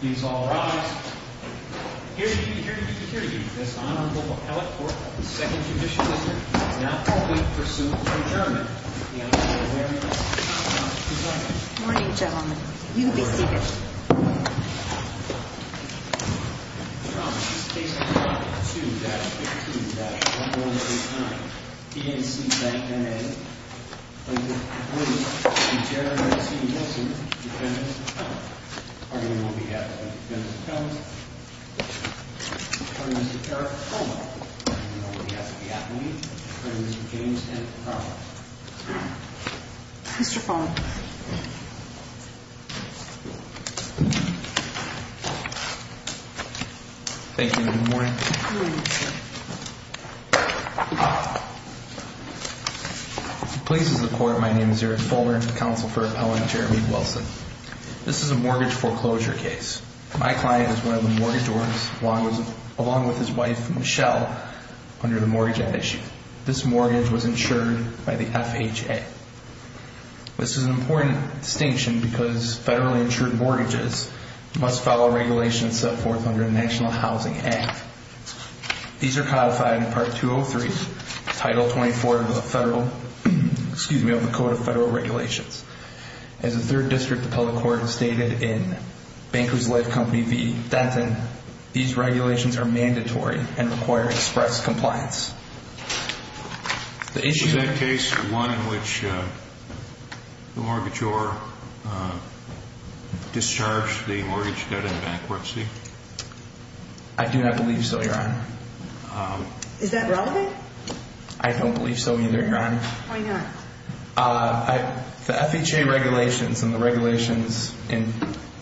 Please all rise. Here to meet you, here to meet you, here to meet you, this Honorable Appellate Court of the Second Judicial District is now formally pursuant to adjournment. May I ask that you be aware of your seat belts, please. Good morning, gentlemen. You can be seated. Your Honor, on behalf of 2-15-1489, PNC Bank, N.A., I present before you Mr. Jared L. C. Wilson, Defendant's Appellant. On behalf of the Defendant's Appellant, I present to you Mr. Eric Fulmer. On behalf of the Appellant, I present to you Mr. James T. Carver. Mr. Fulmer. Thank you and good morning. Good morning, sir. Please, as a court, my name is Eric Fulmer, Counsel for Appellant Jeremy Wilson. This is a mortgage foreclosure case. My client is one of the mortgagors along with his wife, Michelle, under the Mortgage Act issue. This mortgage was insured by the FHA. This is an important distinction because federally insured mortgages must follow regulations set forth under the National Housing Act. These are codified in Part 203, Title 24 of the Federal, excuse me, of the Code of Federal Regulations. As the 3rd District Appellate Court stated in Bankers Life Company v. Denton, these regulations are mandatory and require express compliance. Is that case one in which the mortgagor discharged the mortgage debt in bankruptcy? I do not believe so, Your Honor. Is that relevant? I don't believe so either, Your Honor. Why not? The FHA regulations and the regulations in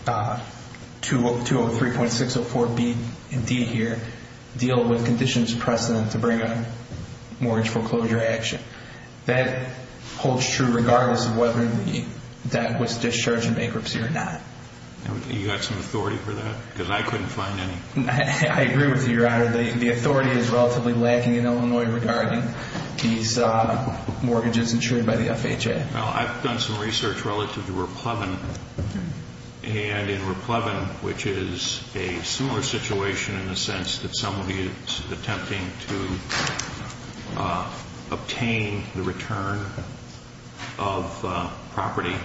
203.604B and D here deal with conditions of precedent to bring a mortgage foreclosure action. That holds true regardless of whether the debt was discharged in bankruptcy or not. You got some authority for that? Because I couldn't find any. I agree with you, Your Honor. The authority is relatively lacking in Illinois regarding these mortgages insured by the FHA. Well, I've done some research relative to Raplevin. And in Raplevin, which is a similar situation in the sense that somebody is attempting to obtain the return of property,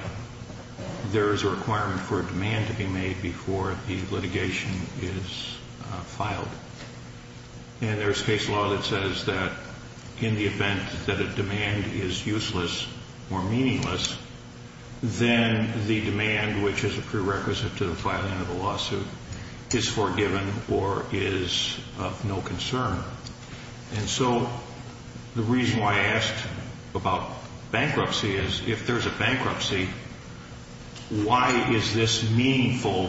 there is a requirement for a demand to be made before the litigation is filed. And there's case law that says that in the event that a demand is useless or meaningless, then the demand, which is a prerequisite to the filing of a lawsuit, is forgiven or is of no concern. And so the reason why I asked about bankruptcy is if there's a bankruptcy, why is this meaningful?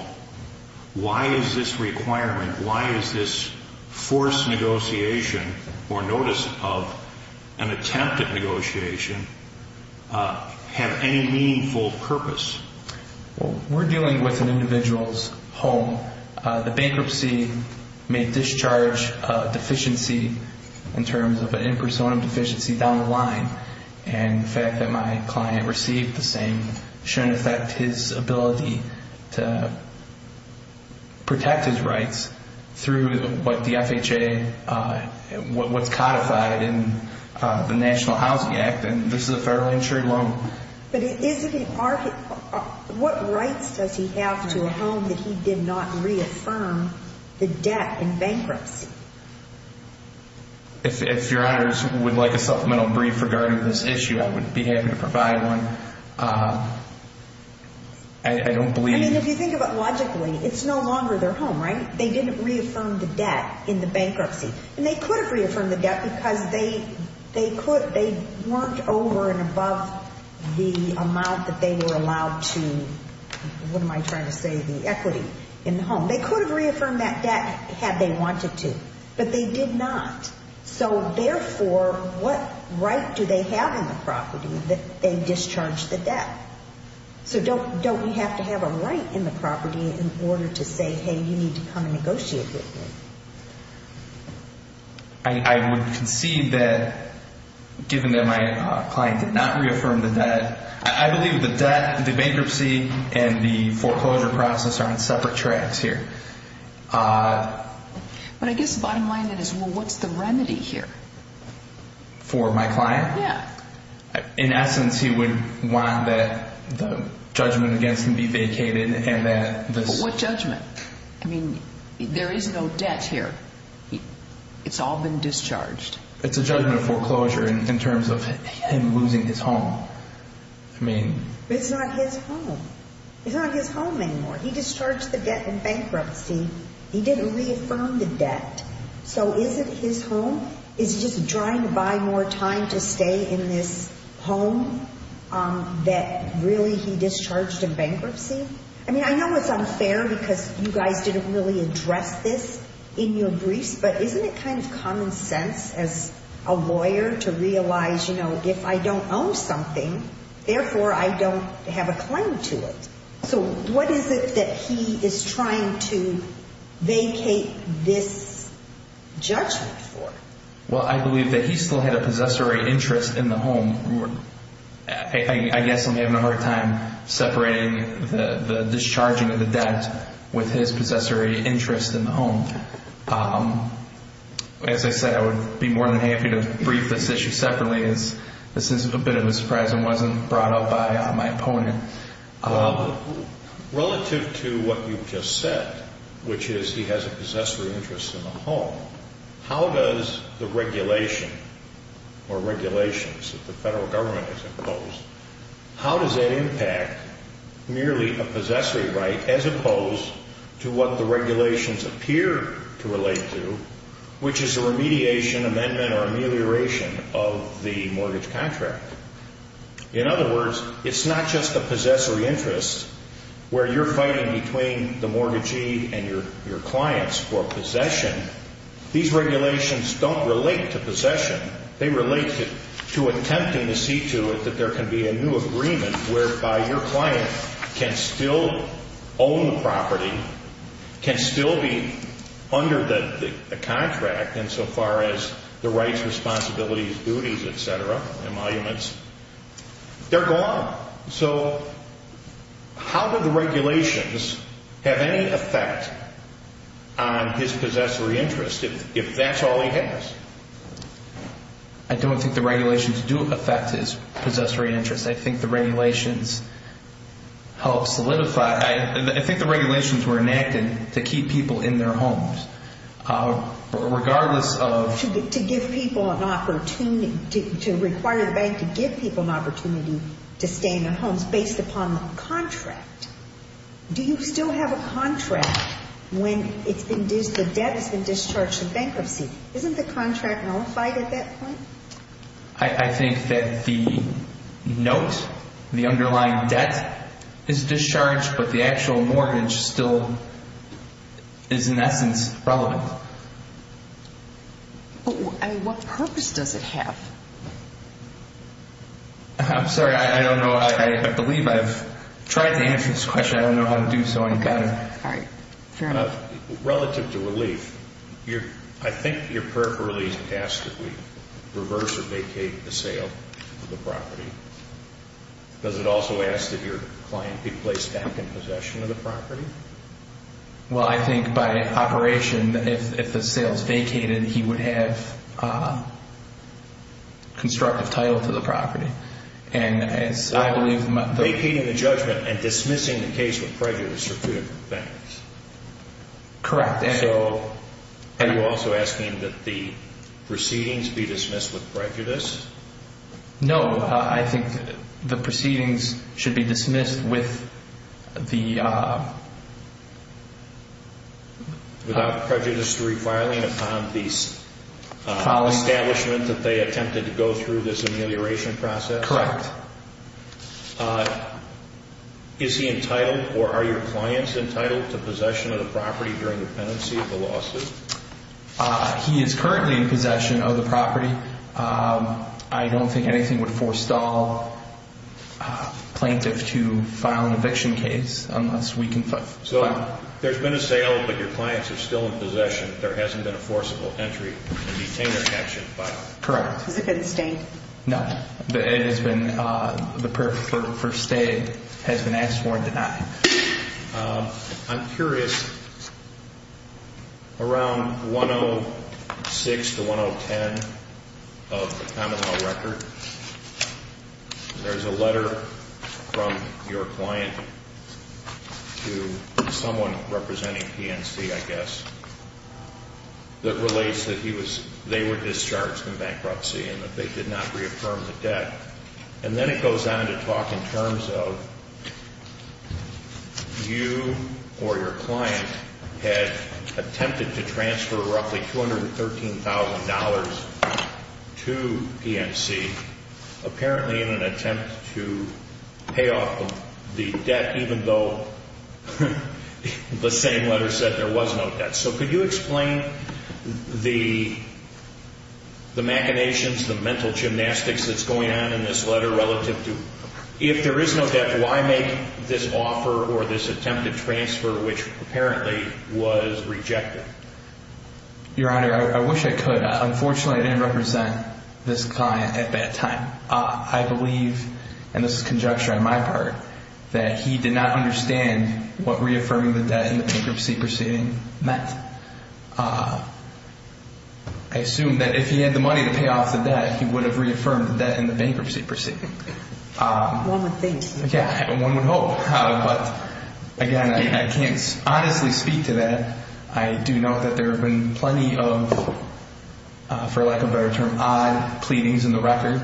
Why is this requirement, why is this forced negotiation or notice of an attempted negotiation have any meaningful purpose? Well, we're dealing with an individual's home. The bankruptcy may discharge a deficiency in terms of an impersonum deficiency down the line. And the fact that my client received the same shouldn't affect his ability to protect his rights through what the FHA, what's codified in the National Housing Act, and this is a federally insured loan. But what rights does he have to a home that he did not reaffirm the debt in bankruptcy? If your honors would like a supplemental brief regarding this issue, I would be happy to provide one. I mean, if you think about logically, it's no longer their home, right? They didn't reaffirm the debt in the bankruptcy. And they could have reaffirmed the debt because they weren't over and above the amount that they were allowed to, what am I trying to say, the equity in the home. They could have reaffirmed that debt had they wanted to, but they did not. So therefore, what right do they have in the property that they discharged the debt? So don't we have to have a right in the property in order to say, hey, you need to come and negotiate with me? I would concede that given that my client did not reaffirm the debt, I believe the bankruptcy and the foreclosure process are on separate tracks here. But I guess the bottom line is, well, what's the remedy here? For my client? Yeah. In essence, he would want that the judgment against him be vacated and that this... But what judgment? I mean, there is no debt here. It's all been discharged. It's a judgment of foreclosure in terms of him losing his home. I mean... But it's not his home. It's not his home anymore. He discharged the debt in bankruptcy. He didn't reaffirm the debt. So is it his home? Is he just trying to buy more time to stay in this home that really he discharged in bankruptcy? I mean, I know it's unfair because you guys didn't really address this in your briefs, but isn't it kind of common sense as a lawyer to realize, you know, if I don't own something, therefore, I don't have a claim to it? So what is it that he is trying to vacate this judgment for? Well, I believe that he still had a possessory interest in the home. I guess I'm having a hard time separating the discharging of the debt with his possessory interest in the home. As I said, I would be more than happy to brief this issue separately. This is a bit of a surprise. It wasn't brought up by my opponent. Relative to what you've just said, which is he has a possessory interest in the home, how does the regulation or regulations that the federal government has imposed, how does that impact merely a possessory right as opposed to what the regulations appear to relate to, which is a remediation, amendment, or amelioration of the mortgage contract? In other words, it's not just a possessory interest where you're fighting between the mortgagee and your clients for possession. These regulations don't relate to possession. They relate to attempting to see to it that there can be a new agreement whereby your client can still own the property, can still be under the contract insofar as the rights, responsibilities, duties, et cetera, emoluments, they're gone. So how do the regulations have any effect on his possessory interest if that's all he has? I don't think the regulations do affect his possessory interest. I think the regulations help solidify. I think the regulations were enacted to keep people in their homes regardless of... to require the bank to give people an opportunity to stay in their homes based upon the contract. Do you still have a contract when the debt has been discharged in bankruptcy? Isn't the contract nullified at that point? I think that the note, the underlying debt is discharged, but the actual mortgage still is in essence relevant. What purpose does it have? I'm sorry. I don't know. I believe I've tried to answer this question. I don't know how to do so on camera. All right. Fair enough. Relative to relief, I think your prayer for relief asks that we reverse or vacate the sale of the property. Does it also ask that your client be placed back in possession of the property? Well, I think by operation, if the sale is vacated, he would have constructive title to the property. Vacating the judgment and dismissing the case with prejudice are two different things. Correct. Are you also asking that the proceedings be dismissed with prejudice? No. I think the proceedings should be dismissed with the- Without prejudice to refiling upon the establishment that they attempted to go through this amelioration process? Correct. Is he entitled or are your clients entitled to possession of the property during the pendency of the lawsuit? He is currently in possession of the property. I don't think anything would forestall a plaintiff to file an eviction case unless we can- So there's been a sale, but your clients are still in possession. There hasn't been a forcible entry and detainer action filed. Correct. He's a good estate. No. It has been-the prayer for stay has been asked for and denied. I'm curious. Around 106 to 110 of the common law record, there's a letter from your client to someone representing PNC, I guess, that relates that they were discharged in bankruptcy and that they did not reaffirm the debt. And then it goes on to talk in terms of you or your client had attempted to transfer roughly $213,000 to PNC, apparently in an attempt to pay off the debt, even though the same letter said there was no debt. So could you explain the machinations, the mental gymnastics that's going on in this letter relative to if there is no debt, why make this offer or this attempt to transfer, which apparently was rejected? Your Honor, I wish I could. Unfortunately, I didn't represent this client at that time. I believe, and this is conjecture on my part, that he did not understand what reaffirming the debt in the bankruptcy proceeding meant. I assume that if he had the money to pay off the debt, he would have reaffirmed the debt in the bankruptcy proceeding. One would think. Yeah, one would hope. But, again, I can't honestly speak to that. I do know that there have been plenty of, for lack of a better term, odd pleadings in the record.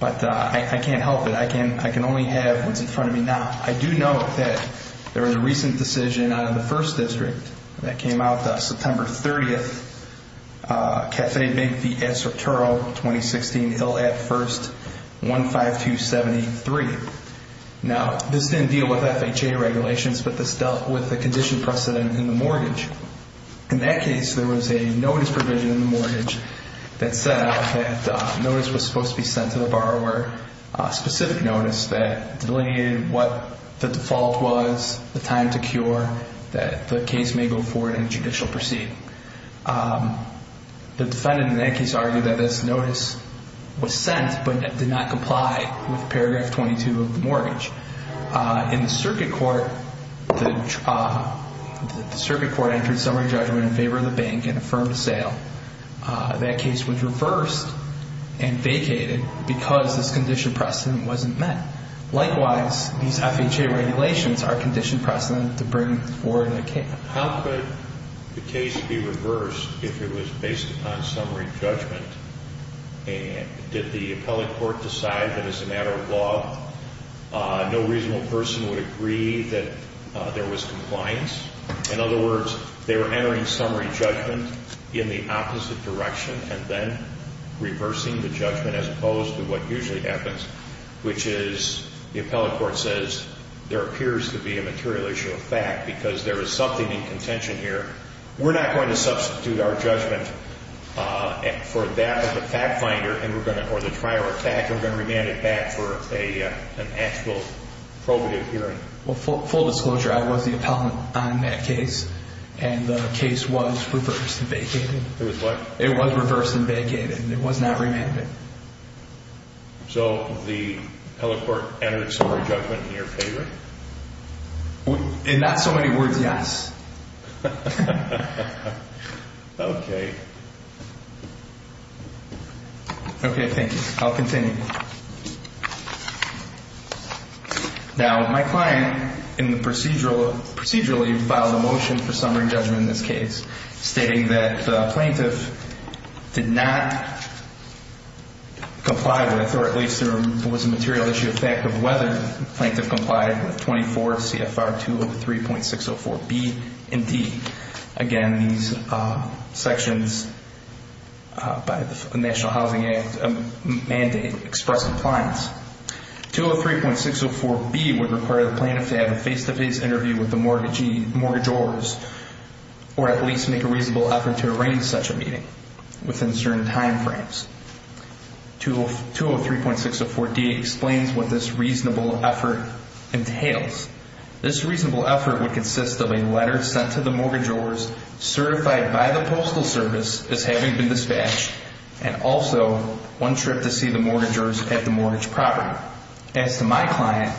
But I can't help it. I can only have what's in front of me now. I do know that there was a recent decision out of the 1st District that came out September 30th. Cafe Big V. S. Arturo, 2016, Hill at 1st, 15273. Now, this didn't deal with FHA regulations, but this dealt with the condition precedent in the mortgage. In that case, there was a notice provision in the mortgage that set out that notice was supposed to be sent to the borrower, a specific notice that delineated what the default was, the time to cure, that the case may go forward in judicial proceed. The defendant in that case argued that this notice was sent but did not comply with paragraph 22 of the mortgage. In the circuit court, the circuit court entered summary judgment in favor of the bank and affirmed the sale. That case was reversed and vacated because this condition precedent wasn't met. Likewise, these FHA regulations are condition precedent to bring forward a case. How could the case be reversed if it was based upon summary judgment? Did the appellate court decide that as a matter of law, no reasonable person would agree that there was compliance? In other words, they were entering summary judgment in the opposite direction and then reversing the judgment as opposed to what usually happens, which is the appellate court says there appears to be a material issue of fact because there is something in contention here. We're not going to substitute our judgment for that of the fact finder or the trier of fact. We're going to remand it back for an actual probative hearing. Well, full disclosure, I was the appellant on that case, and the case was reversed and vacated. It was what? It was reversed and vacated. It was not remanded. So the appellate court entered summary judgment in your favor? In not so many words, yes. Okay. Okay, thank you. I'll continue. Now, my client procedurally filed a motion for summary judgment in this case, stating that the plaintiff did not comply with or at least there was a material issue of fact of whether the plaintiff complied with 24 CFR 203.604B and D. Again, these sections by the National Housing Act mandate express compliance. 203.604B would require the plaintiff to have a face-to-face interview with the mortgagors or at least make a reasonable effort to arrange such a meeting within certain time frames. 203.604D explains what this reasonable effort entails. This reasonable effort would consist of a letter sent to the mortgagors certified by the Postal Service as having been dispatched and also one trip to see the mortgagors at the mortgage property. As to my client,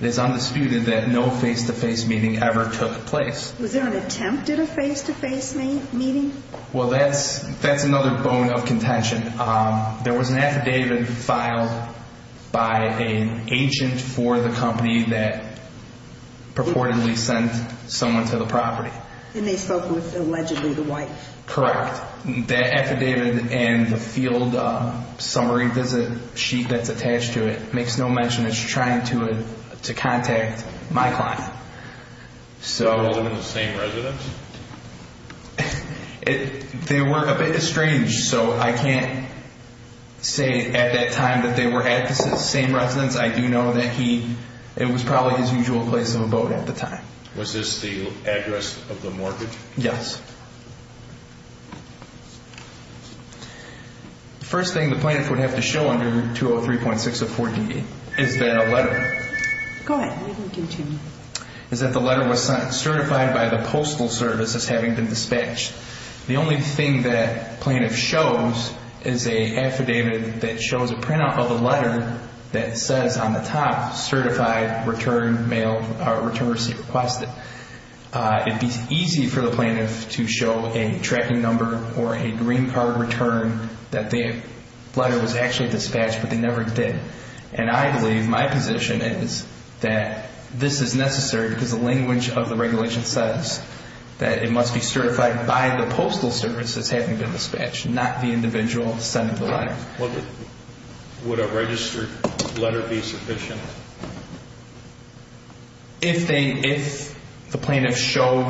it is undisputed that no face-to-face meeting ever took place. Was there an attempt at a face-to-face meeting? Well, that's another bone of contention. There was an affidavit filed by an agent for the company that purportedly sent someone to the property. And they spoke with allegedly the wife? Correct. That affidavit and the field summary visit sheet that's attached to it makes no mention of trying to contact my client. They were all in the same residence? They were a bit estranged, so I can't say at that time that they were at the same residence. I do know that it was probably his usual place of abode at the time. Was this the address of the mortgage? Yes. The first thing the plaintiff would have to show under 203.604DD is the letter. Go ahead. What are you going to do to me? Is that the letter was sent certified by the Postal Service as having been dispatched. The only thing that plaintiff shows is an affidavit that shows a printout of a letter that says on the top, Certified Return Mail or Return Receipt Requested. It would be easy for the plaintiff to show a tracking number or a green card return that the letter was actually dispatched, but they never did. And I believe my position is that this is necessary because the language of the regulation says that it must be certified by the Postal Service as having been dispatched, not the individual sending the letter. Would a registered letter be sufficient? If the plaintiff showed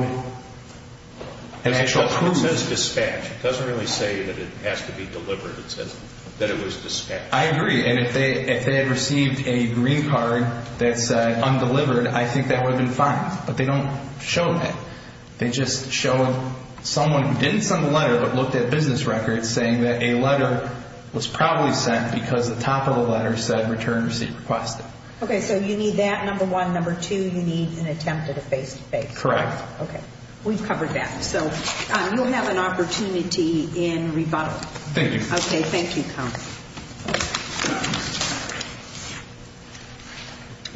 an actual proof. It says dispatched. It doesn't really say that it has to be delivered. It says that it was dispatched. I agree. And if they had received a green card that said undelivered, I think that would have been fine, but they don't show that. They just show someone who didn't send the letter but looked at business records saying that a letter was probably sent because the top of the letter said Return Receipt Requested. Okay, so you need that, number one. Number two, you need an attempt at a face-to-face. Correct. Okay. We've covered that. So you'll have an opportunity in rebuttal. Thank you. Okay. Thank you, Counsel.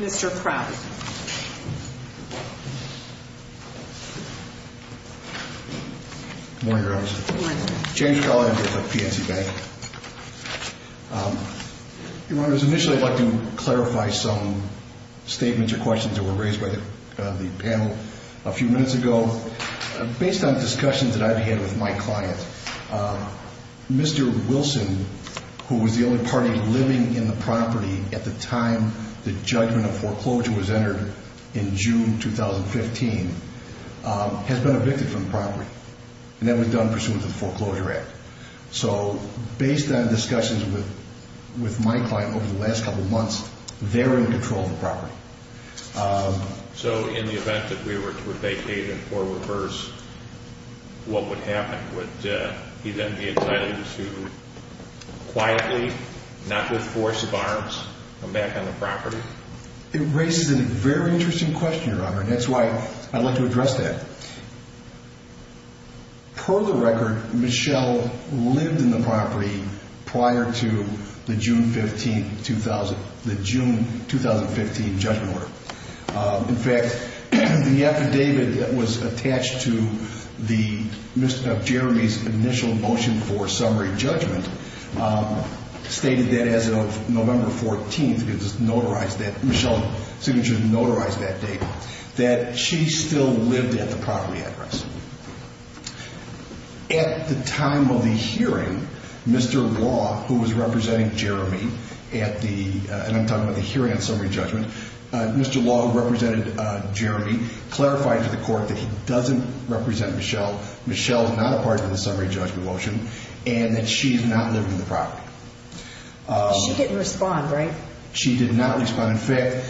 Mr. Crowley. Good morning, Your Honor. James Crowley, I'm here with PNC Bank. Your Honor, initially I'd like to clarify some statements or questions that were raised by the panel a few minutes ago. Based on discussions that I've had with my client, Mr. Wilson, who was the only party living in the property at the time the judgment of foreclosure was entered in June 2015, has been evicted from the property, and that was done pursuant to the Foreclosure Act. So based on discussions with my client over the last couple of months, they're in control of the property. So in the event that we were to vacate and foreclose, what would happen? Would he then be excited to quietly, not with force of arms, come back on the property? It raises a very interesting question, Your Honor, and that's why I'd like to address that. Per the record, Michelle lived in the property prior to the June 2015 judgment order. In fact, the affidavit that was attached to Jeremy's initial motion for summary judgment stated that as of November 14th, Michelle's signature notarized that date, that she still lived at the property address. At the time of the hearing, Mr. Law, who was representing Jeremy at the hearing on summary judgment, Mr. Law, who represented Jeremy, clarified to the court that he doesn't represent Michelle, Michelle is not a part of the summary judgment motion, and that she's not living in the property. She didn't respond, right? She did not respond. In fact,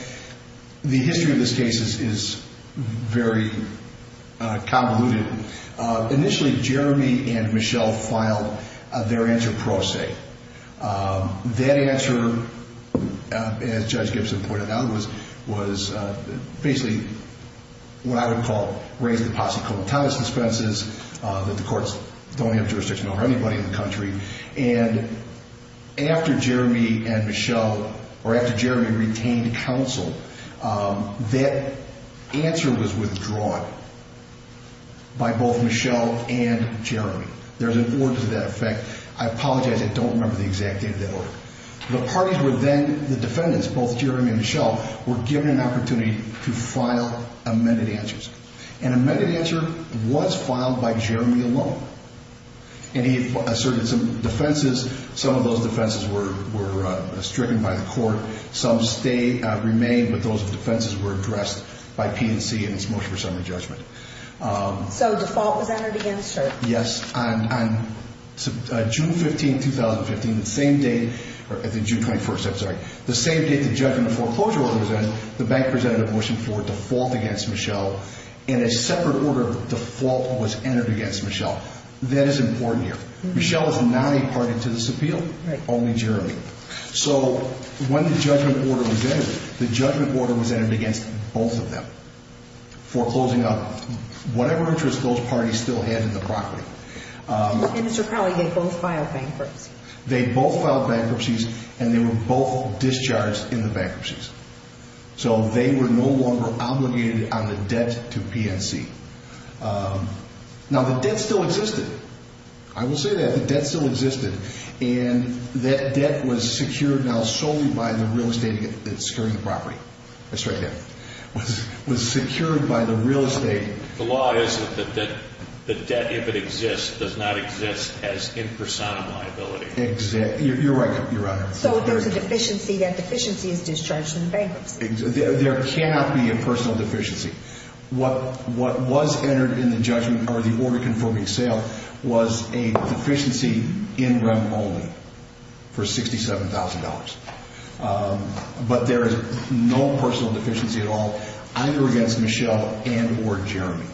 the history of this case is very convoluted. Initially, Jeremy and Michelle filed their enter pro se. That answer, as Judge Gibson pointed out, was basically what I would call raised in posse comatose suspenses that the courts don't have jurisdiction over anybody in the country. And after Jeremy and Michelle, or after Jeremy retained counsel, that answer was withdrawn by both Michelle and Jeremy. There's an order to that effect. I apologize, I don't remember the exact date of that order. The parties were then, the defendants, both Jeremy and Michelle, were given an opportunity to file amended answers. An amended answer was filed by Jeremy alone. And he asserted some defenses. Some of those defenses were stricken by the court. Some remain, but those defenses were addressed by P&C in its motion for summary judgment. So default was entered against her? Yes. On June 15, 2015, the same day, or June 21st, I'm sorry, the same day the judgment foreclosure order was entered, the bank presented a motion for default against Michelle, and a separate order of default was entered against Michelle. That is important here. Michelle is not a party to this appeal, only Jeremy. So when the judgment order was entered, the judgment order was entered against both of them for closing up whatever interest those parties still had in the property. And Mr. Crowley, they both filed bankruptcy? They both filed bankruptcies, and they were both discharged in the bankruptcies. So they were no longer obligated on the debt to P&C. Now, the debt still existed. I will say that. The debt still existed. And that debt was secured now solely by the real estate that's securing the property. That's right there. Was secured by the real estate. The law is that the debt, if it exists, does not exist as in personam liability. You're right, Your Honor. So if there's a deficiency, that deficiency is discharged from the bankruptcy? There cannot be a personal deficiency. What was entered in the judgment or the order confirming sale was a deficiency in rem only for $67,000. But there is no personal deficiency at all, either against Michelle and or Jeremy.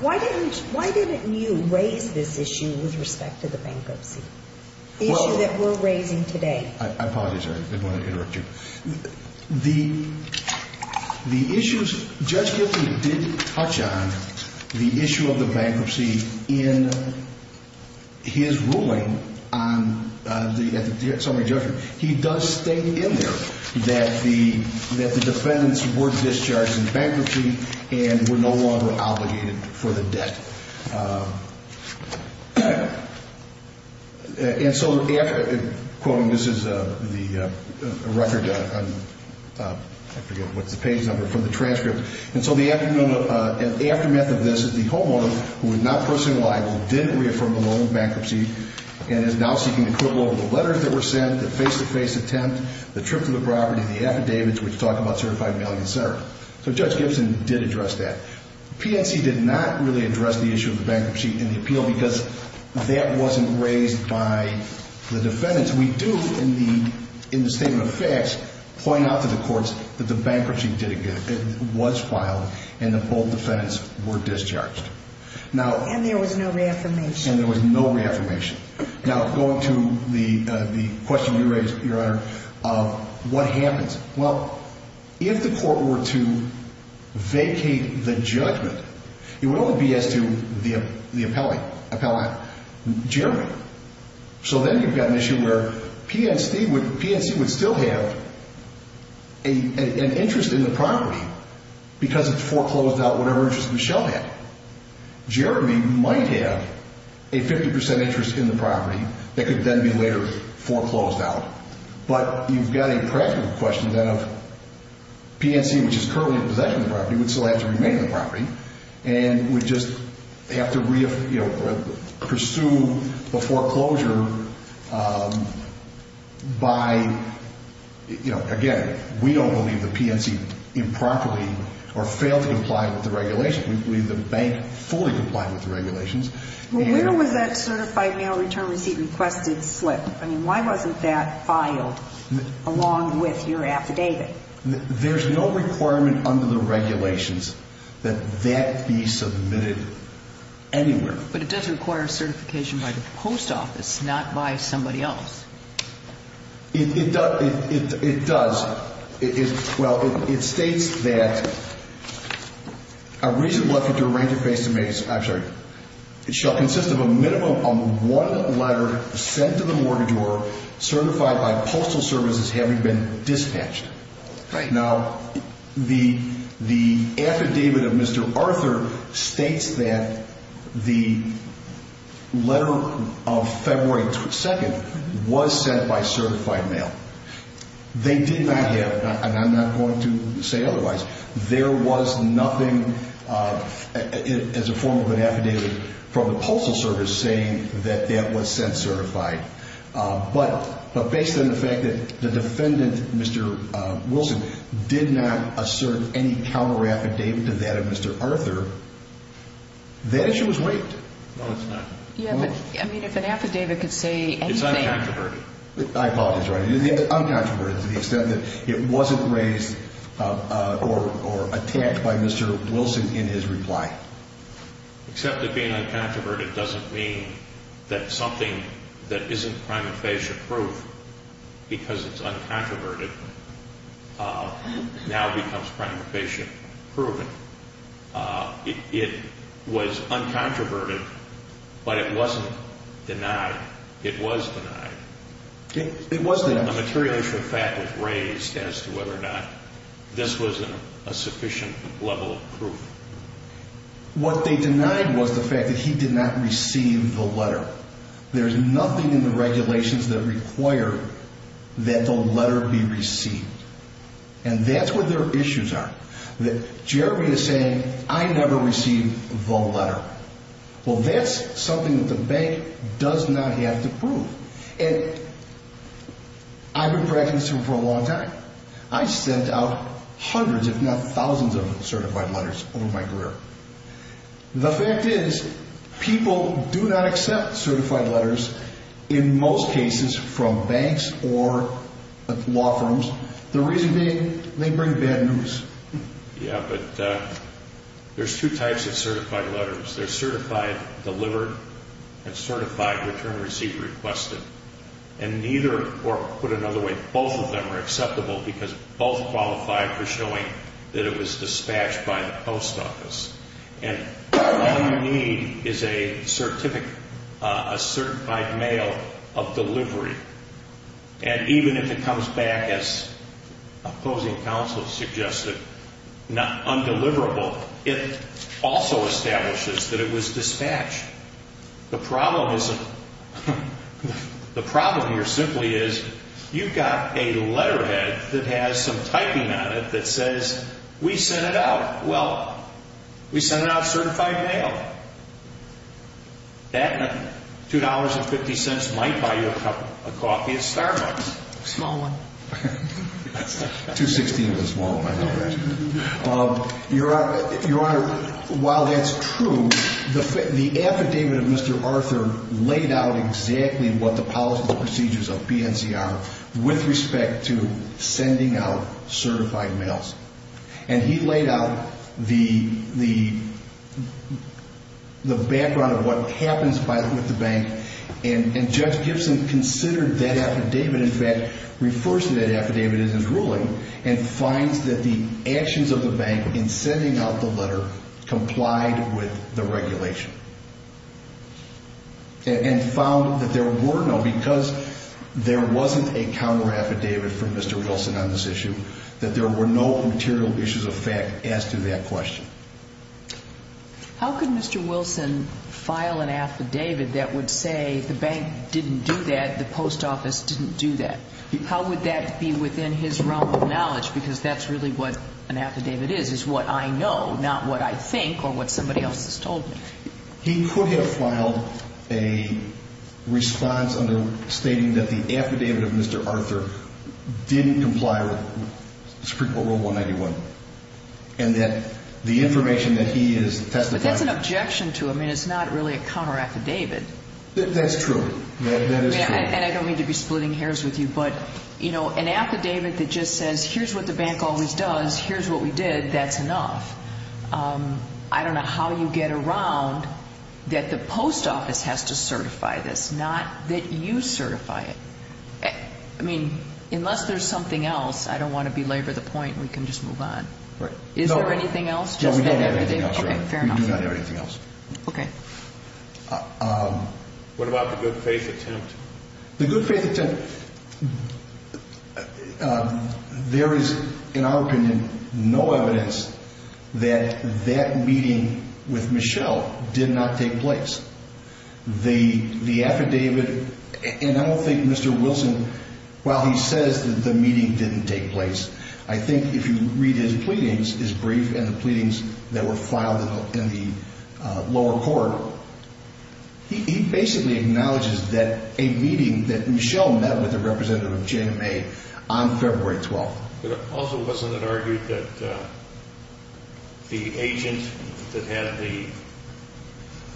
Why didn't you raise this issue with respect to the bankruptcy? The issue that we're raising today. I apologize, Your Honor. I didn't want to interrupt you. The issues, Judge Gifford did touch on the issue of the bankruptcy in his ruling on the summary judgment. He does state in there that the defendants were discharged in bankruptcy and were no longer obligated for the debt. And so, quoting, this is the record, I forget what's the page number, from the transcript. And so the aftermath of this is the homeowner, who was not personally liable, didn't reaffirm the loan bankruptcy and is now seeking equivalent of the letters that were sent, the face-to-face attempt, the trip to the property, the affidavits, which talk about certified mailing, et cetera. So Judge Gibson did address that. PNC did not really address the issue of the bankruptcy in the appeal because that wasn't raised by the defendants. We do, in the statement of facts, point out to the courts that the bankruptcy was filed and that both defendants were discharged. And there was no reaffirmation. And there was no reaffirmation. Now, going to the question you raised, Your Honor, of what happens. Well, if the court were to vacate the judgment, it would only be as to the appellate, Jeremy. So then you've got an issue where PNC would still have an interest in the property because it's foreclosed out whatever interest Michelle had. Jeremy might have a 50 percent interest in the property that could then be later foreclosed out. But you've got a practical question then of PNC, which is currently in possession of the property, would still have to remain in the property. And would just have to pursue the foreclosure by, you know, again, we don't believe the PNC improperly or failed to comply with the regulations. We believe the bank fully complied with the regulations. Well, where was that certified mail return receipt requested slip? I mean, why wasn't that filed along with your affidavit? There's no requirement under the regulations that that be submitted anywhere. But it does require certification by the post office, not by somebody else. It does. Well, it states that a reasonable effort to arrange a face-to-face, I'm sorry. It shall consist of a minimum of one letter sent to the mortgagor certified by postal services having been dispatched. Now, the affidavit of Mr. Arthur states that the letter of February 2nd was sent by certified mail. They did not have, and I'm not going to say otherwise, there was nothing as a form of an affidavit from the postal service saying that that was sent certified. But based on the fact that the defendant, Mr. Wilson, did not assert any counter affidavit to that of Mr. Arthur, that issue was waived. I mean, if an affidavit could say anything. It's uncontroverted. It's uncontroverted to the extent that it wasn't raised or attacked by Mr. Wilson in his reply. Except that being uncontroverted doesn't mean that something that isn't crime infatia proof, because it's uncontroverted, now becomes crime infatia proven. It was uncontroverted, but it wasn't denied. It was denied. A material issue of fact was raised as to whether or not this was a sufficient level of proof. What they denied was the fact that he did not receive the letter. There's nothing in the regulations that require that the letter be received. And that's where their issues are. That Jeremy is saying, I never received the letter. Well, that's something that the bank does not have the proof. And I've been practicing for a long time. I sent out hundreds, if not thousands of certified letters over my career. The fact is, people do not accept certified letters in most cases from banks or law firms. The reason being, they bring bad news. Yeah, but there's two types of certified letters. There's certified delivered and certified return receipt requested. And neither, or put another way, both of them are acceptable because both qualify for showing that it was dispatched by the post office. And all you need is a certified mail of delivery. And even if it comes back as opposing counsel suggested, undeliverable, it also establishes that it was dispatched. The problem here simply is, you've got a letterhead that has some typing on it that says, we sent it out. Well, we sent it out certified mail. That and a $2.50 might buy you a cup of coffee at Starbucks. Small one. $2.60 is a small one. Your Honor, while that's true, the affidavit of Mr. Arthur laid out exactly what the policies and procedures of PNCR with respect to sending out certified mails. And he laid out the background of what happens with the bank. And Judge Gibson considered that affidavit. In fact, refers to that affidavit in his ruling and finds that the actions of the bank in sending out the letter complied with the regulation. And found that there were no, because there wasn't a counter affidavit from Mr. Wilson on this issue, that there were no material issues of fact as to that question. How could Mr. Wilson file an affidavit that would say the bank didn't do that, the post office didn't do that? How would that be within his realm of knowledge? Because that's really what an affidavit is, is what I know, not what I think or what somebody else has told me. He could have filed a response under stating that the affidavit of Mr. Arthur didn't comply with Supreme Court Rule 191. And that the information that he is testifying... But that's an objection to him and it's not really a counter affidavit. That's true. That is true. And I don't mean to be splitting hairs with you, but, you know, an affidavit that just says here's what the bank always does, here's what we did, that's enough. I don't know how you get around that the post office has to certify this, not that you certify it. I mean, unless there's something else, I don't want to belabor the point, we can just move on. Is there anything else? No, we don't have anything else. We do not have anything else. Okay. What about the good faith attempt? The good faith attempt, there is, in our opinion, no evidence that that meeting with Michelle did not take place. The affidavit, and I don't think Mr. Wilson, while he says that the meeting didn't take place, I think if you read his pleadings, his brief and the pleadings that were filed in the lower court, he basically acknowledges that a meeting that Michelle met with a representative of JMA on February 12th. But also wasn't it argued that the agent that had the,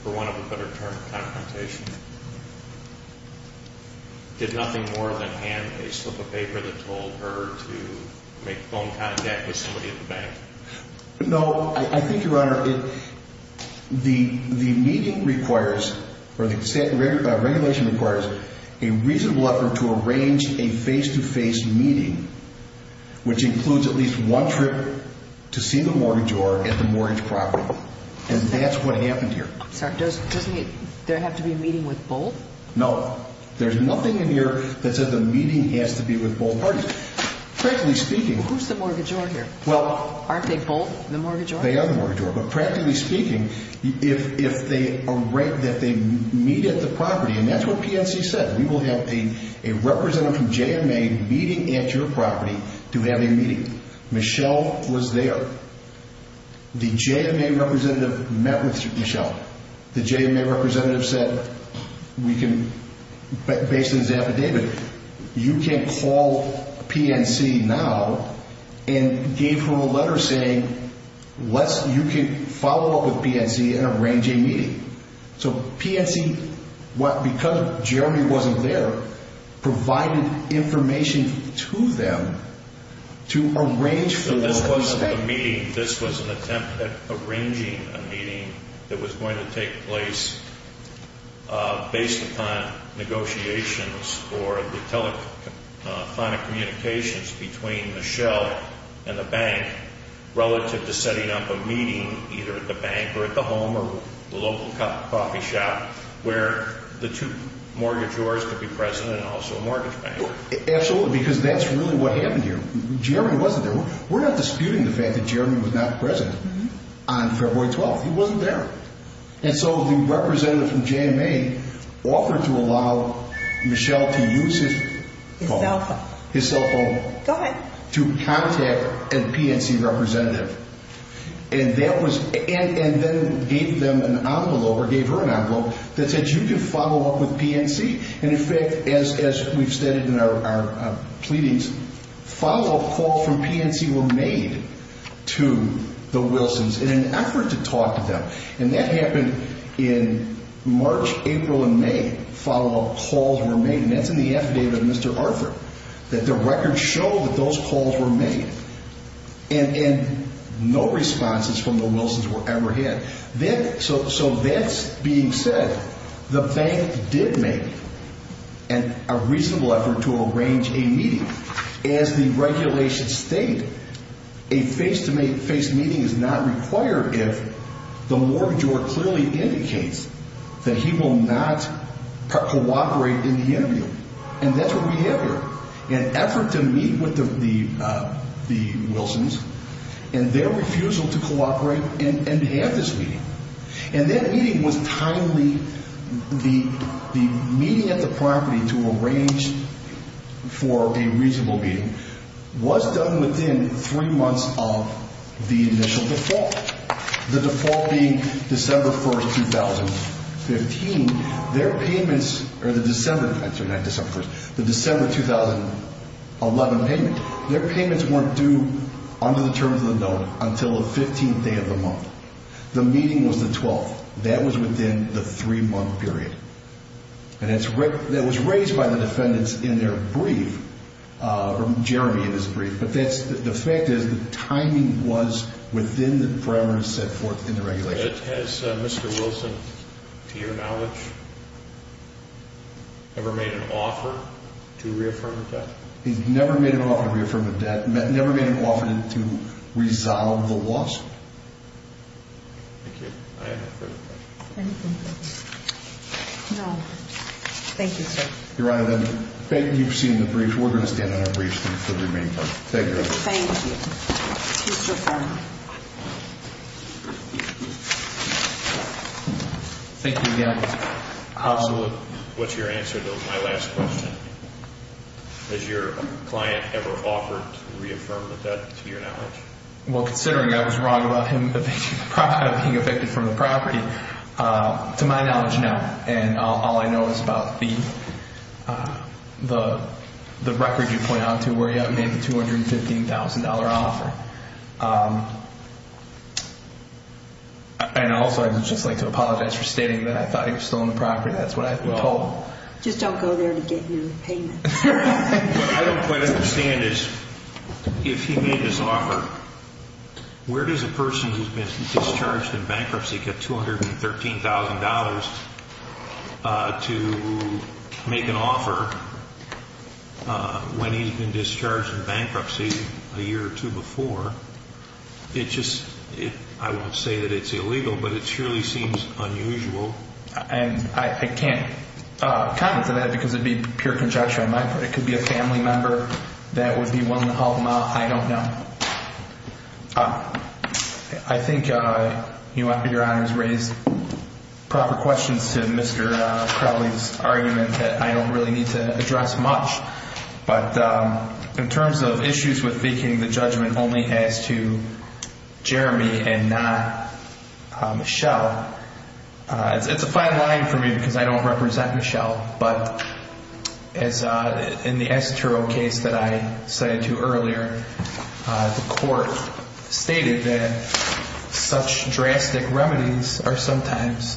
for want of a better term, confrontation, did nothing more than hand a slip of paper that told her to make phone contact with somebody at the bank? No, I think, Your Honor, the meeting requires, or the regulation requires, a reasonable effort to arrange a face-to-face meeting, which includes at least one trip to see the mortgagor at the mortgage property. And that's what happened here. Sorry, doesn't there have to be a meeting with both? No, there's nothing in here that says the meeting has to be with both parties. Frankly speaking. Who's the mortgagor here? Aren't they both the mortgagor? They are the mortgagor, but practically speaking, if they meet at the property, and that's what PNC said, we will have a representative from JMA meeting at your property to have a meeting. Michelle was there. The JMA representative met with Michelle. The JMA representative said, based on his affidavit, you can call PNC now and gave her a letter saying, you can follow up with PNC and arrange a meeting. So PNC, because Jeremy wasn't there, provided information to them to arrange for this meeting. This was an attempt at arranging a meeting that was going to take place based upon negotiations or the telephonic communications between Michelle and the bank relative to setting up a meeting either at the bank or at the home or the local coffee shop where the two mortgagors could be present and also a mortgage banker. Absolutely, because that's really what happened here. Jeremy wasn't there. We're not disputing the fact that Jeremy was not present on February 12th. He wasn't there. So the representative from JMA offered to allow Michelle to use his cell phone to contact a PNC representative and then gave her an envelope that said, you can follow up with PNC. And in fact, as we've stated in our pleadings, follow-up calls from PNC were made to the Wilsons in an effort to talk to them. And that happened in March, April, and May, follow-up calls were made. And that's in the affidavit of Mr. Arthur, that the records show that those calls were made and no responses from the Wilsons were ever had. So that's being said, the bank did make a reasonable effort to arrange a meeting. As the regulations state, a face-to-face meeting is not required if the mortgagor clearly indicates that he will not cooperate in the interview. And that's what we have here, an effort to meet with the Wilsons and their refusal to cooperate and have this meeting. And that meeting was timely. The meeting at the property to arrange for a reasonable meeting was done within three months of the initial default, the default being December 1st, 2015. Their payments, or the December, I'm sorry, not December 1st, the December 2011 payment, their payments weren't due under the terms of the note until the 15th day of the month. The meeting was the 12th. That was within the three-month period. And that was raised by the defendants in their brief, or Jeremy in his brief, but the fact is the timing was within the parameters set forth in the regulations. Thank you. I have a further question. Anything further? No. Thank you, sir. Your Honor, then, you've seen the brief. We're going to stand on our briefs for the remainder. Thank you very much. Thank you. Please reaffirm. Thank you again. What's your answer to my last question? Has your client ever offered to reaffirm the debt to your knowledge? Well, considering I was wrong about him being evicted from the property, to my knowledge, no. And all I know is about the record you point out to where he made the $215,000 offer. And also, I would just like to apologize for stating that I thought he was still on the property. That's what I was told. Just don't go there to get new payments. What I don't quite understand is if he made this offer, where does a person who's been discharged in bankruptcy get $213,000 to make an offer when he's been discharged in bankruptcy a year or two before? It just – I won't say that it's illegal, but it surely seems unusual. I can't comment to that because it would be pure conjecture on my part. It could be a family member. That would be one to help him out. I don't know. I think your Honor has raised proper questions to Mr. Crowley's argument that I don't really need to address much. But in terms of issues with making the judgment only as to Jeremy and not Michelle, it's a fine line for me because I don't represent Michelle. But as in the Acetero case that I cited to you earlier, the court stated that such drastic remedies are sometimes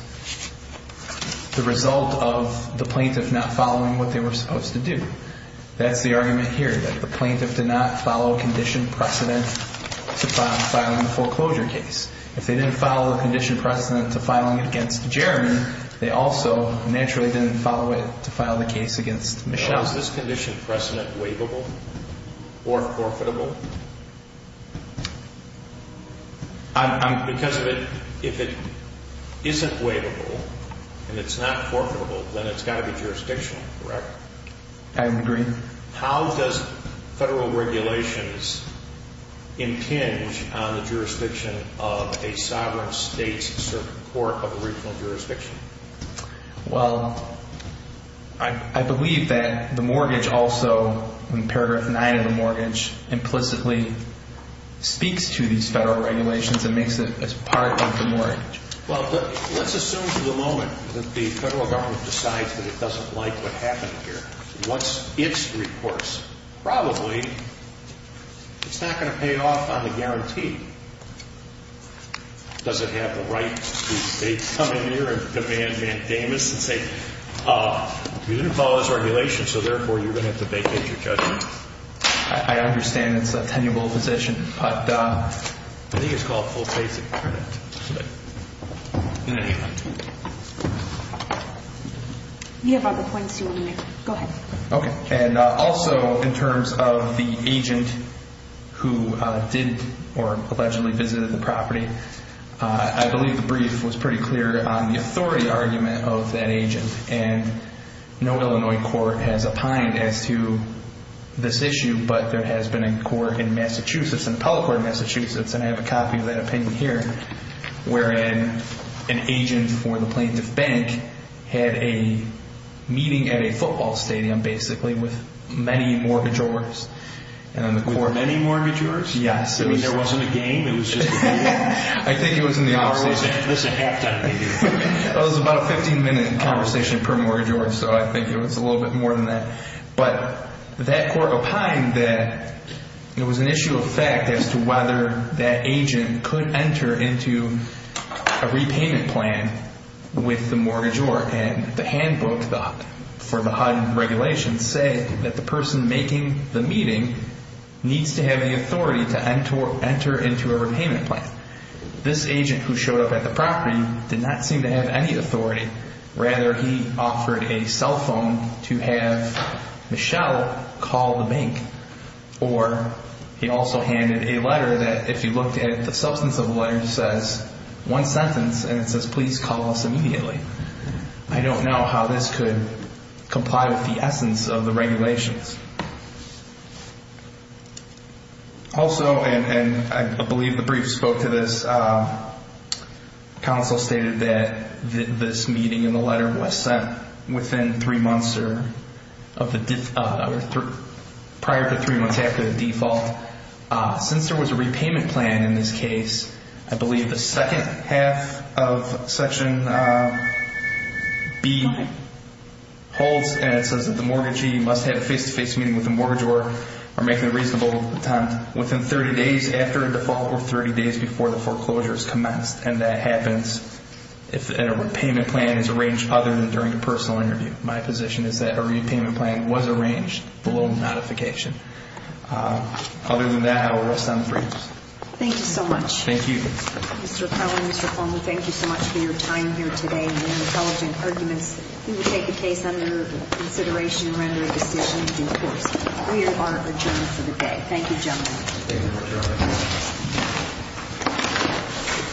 the result of the plaintiff not following what they were supposed to do. That's the argument here, that the plaintiff did not follow condition precedent to filing the foreclosure case. If they didn't follow the condition precedent to filing it against Jeremy, they also naturally didn't follow it to file the case against Michelle. Is this condition precedent waivable or forfeitable? I'm – Because if it isn't waivable and it's not forfeitable, then it's got to be jurisdictional, correct? I agree. How does federal regulations impinge on the jurisdiction of a sovereign state's court of a regional jurisdiction? Well, I believe that the mortgage also, in paragraph 9 of the mortgage, implicitly speaks to these federal regulations and makes it as part of the mortgage. Well, let's assume for the moment that the federal government decides that it doesn't like what happened here. What's its recourse? Probably it's not going to pay off on the guarantee. Does it have the right to come in here and demand mandamus and say, you didn't follow this regulation so therefore you're going to have to vacate your judgment? I understand it's a tenuable position, but – I think it's called full face of precedent. You have other points you want to make. Go ahead. Okay. And also in terms of the agent who did or allegedly visited the property, I believe the brief was pretty clear on the authority argument of that agent. And no Illinois court has opined as to this issue, but there has been a court in Massachusetts, an appellate court in Massachusetts, and I have a copy of that opinion here, wherein an agent for the plaintiff bank had a meeting at a football stadium, basically, with many mortgagors. With many mortgagors? Yes. There wasn't a game? It was just a meeting? I think it was in the office. It was a halftime meeting. It was about a 15-minute conversation per mortgagor, so I think it was a little bit more than that. But that court opined that it was an issue of fact as to whether that agent could enter into a repayment plan with the mortgagor. And the handbook for the HUD regulation said that the person making the meeting needs to have the authority to enter into a repayment plan. This agent who showed up at the property did not seem to have any authority. Rather, he offered a cell phone to have Michelle call the bank. Or he also handed a letter that, if you looked at the substance of the letter, says one sentence, and it says, please call us immediately. I don't know how this could comply with the essence of the regulations. Also, and I believe the brief spoke to this, counsel stated that this meeting in the letter was sent prior to three months after the default. Since there was a repayment plan in this case, I believe the second half of Section B holds, and it says that the mortgagee must have a face-to-face meeting with the mortgagor or make the reasonable attempt within 30 days after a default or 30 days before the foreclosure is commenced. And that happens if a repayment plan is arranged other than during a personal interview. My position is that a repayment plan was arranged below modification. Other than that, I will rest on the briefs. Thank you so much. Thank you. Mr. Powell and Mr. Cuomo, thank you so much for your time here today and the intelligent arguments. We will take the case under consideration and render a decision in due course. We are adjourned for the day. Thank you, gentlemen. Thank you, Judge.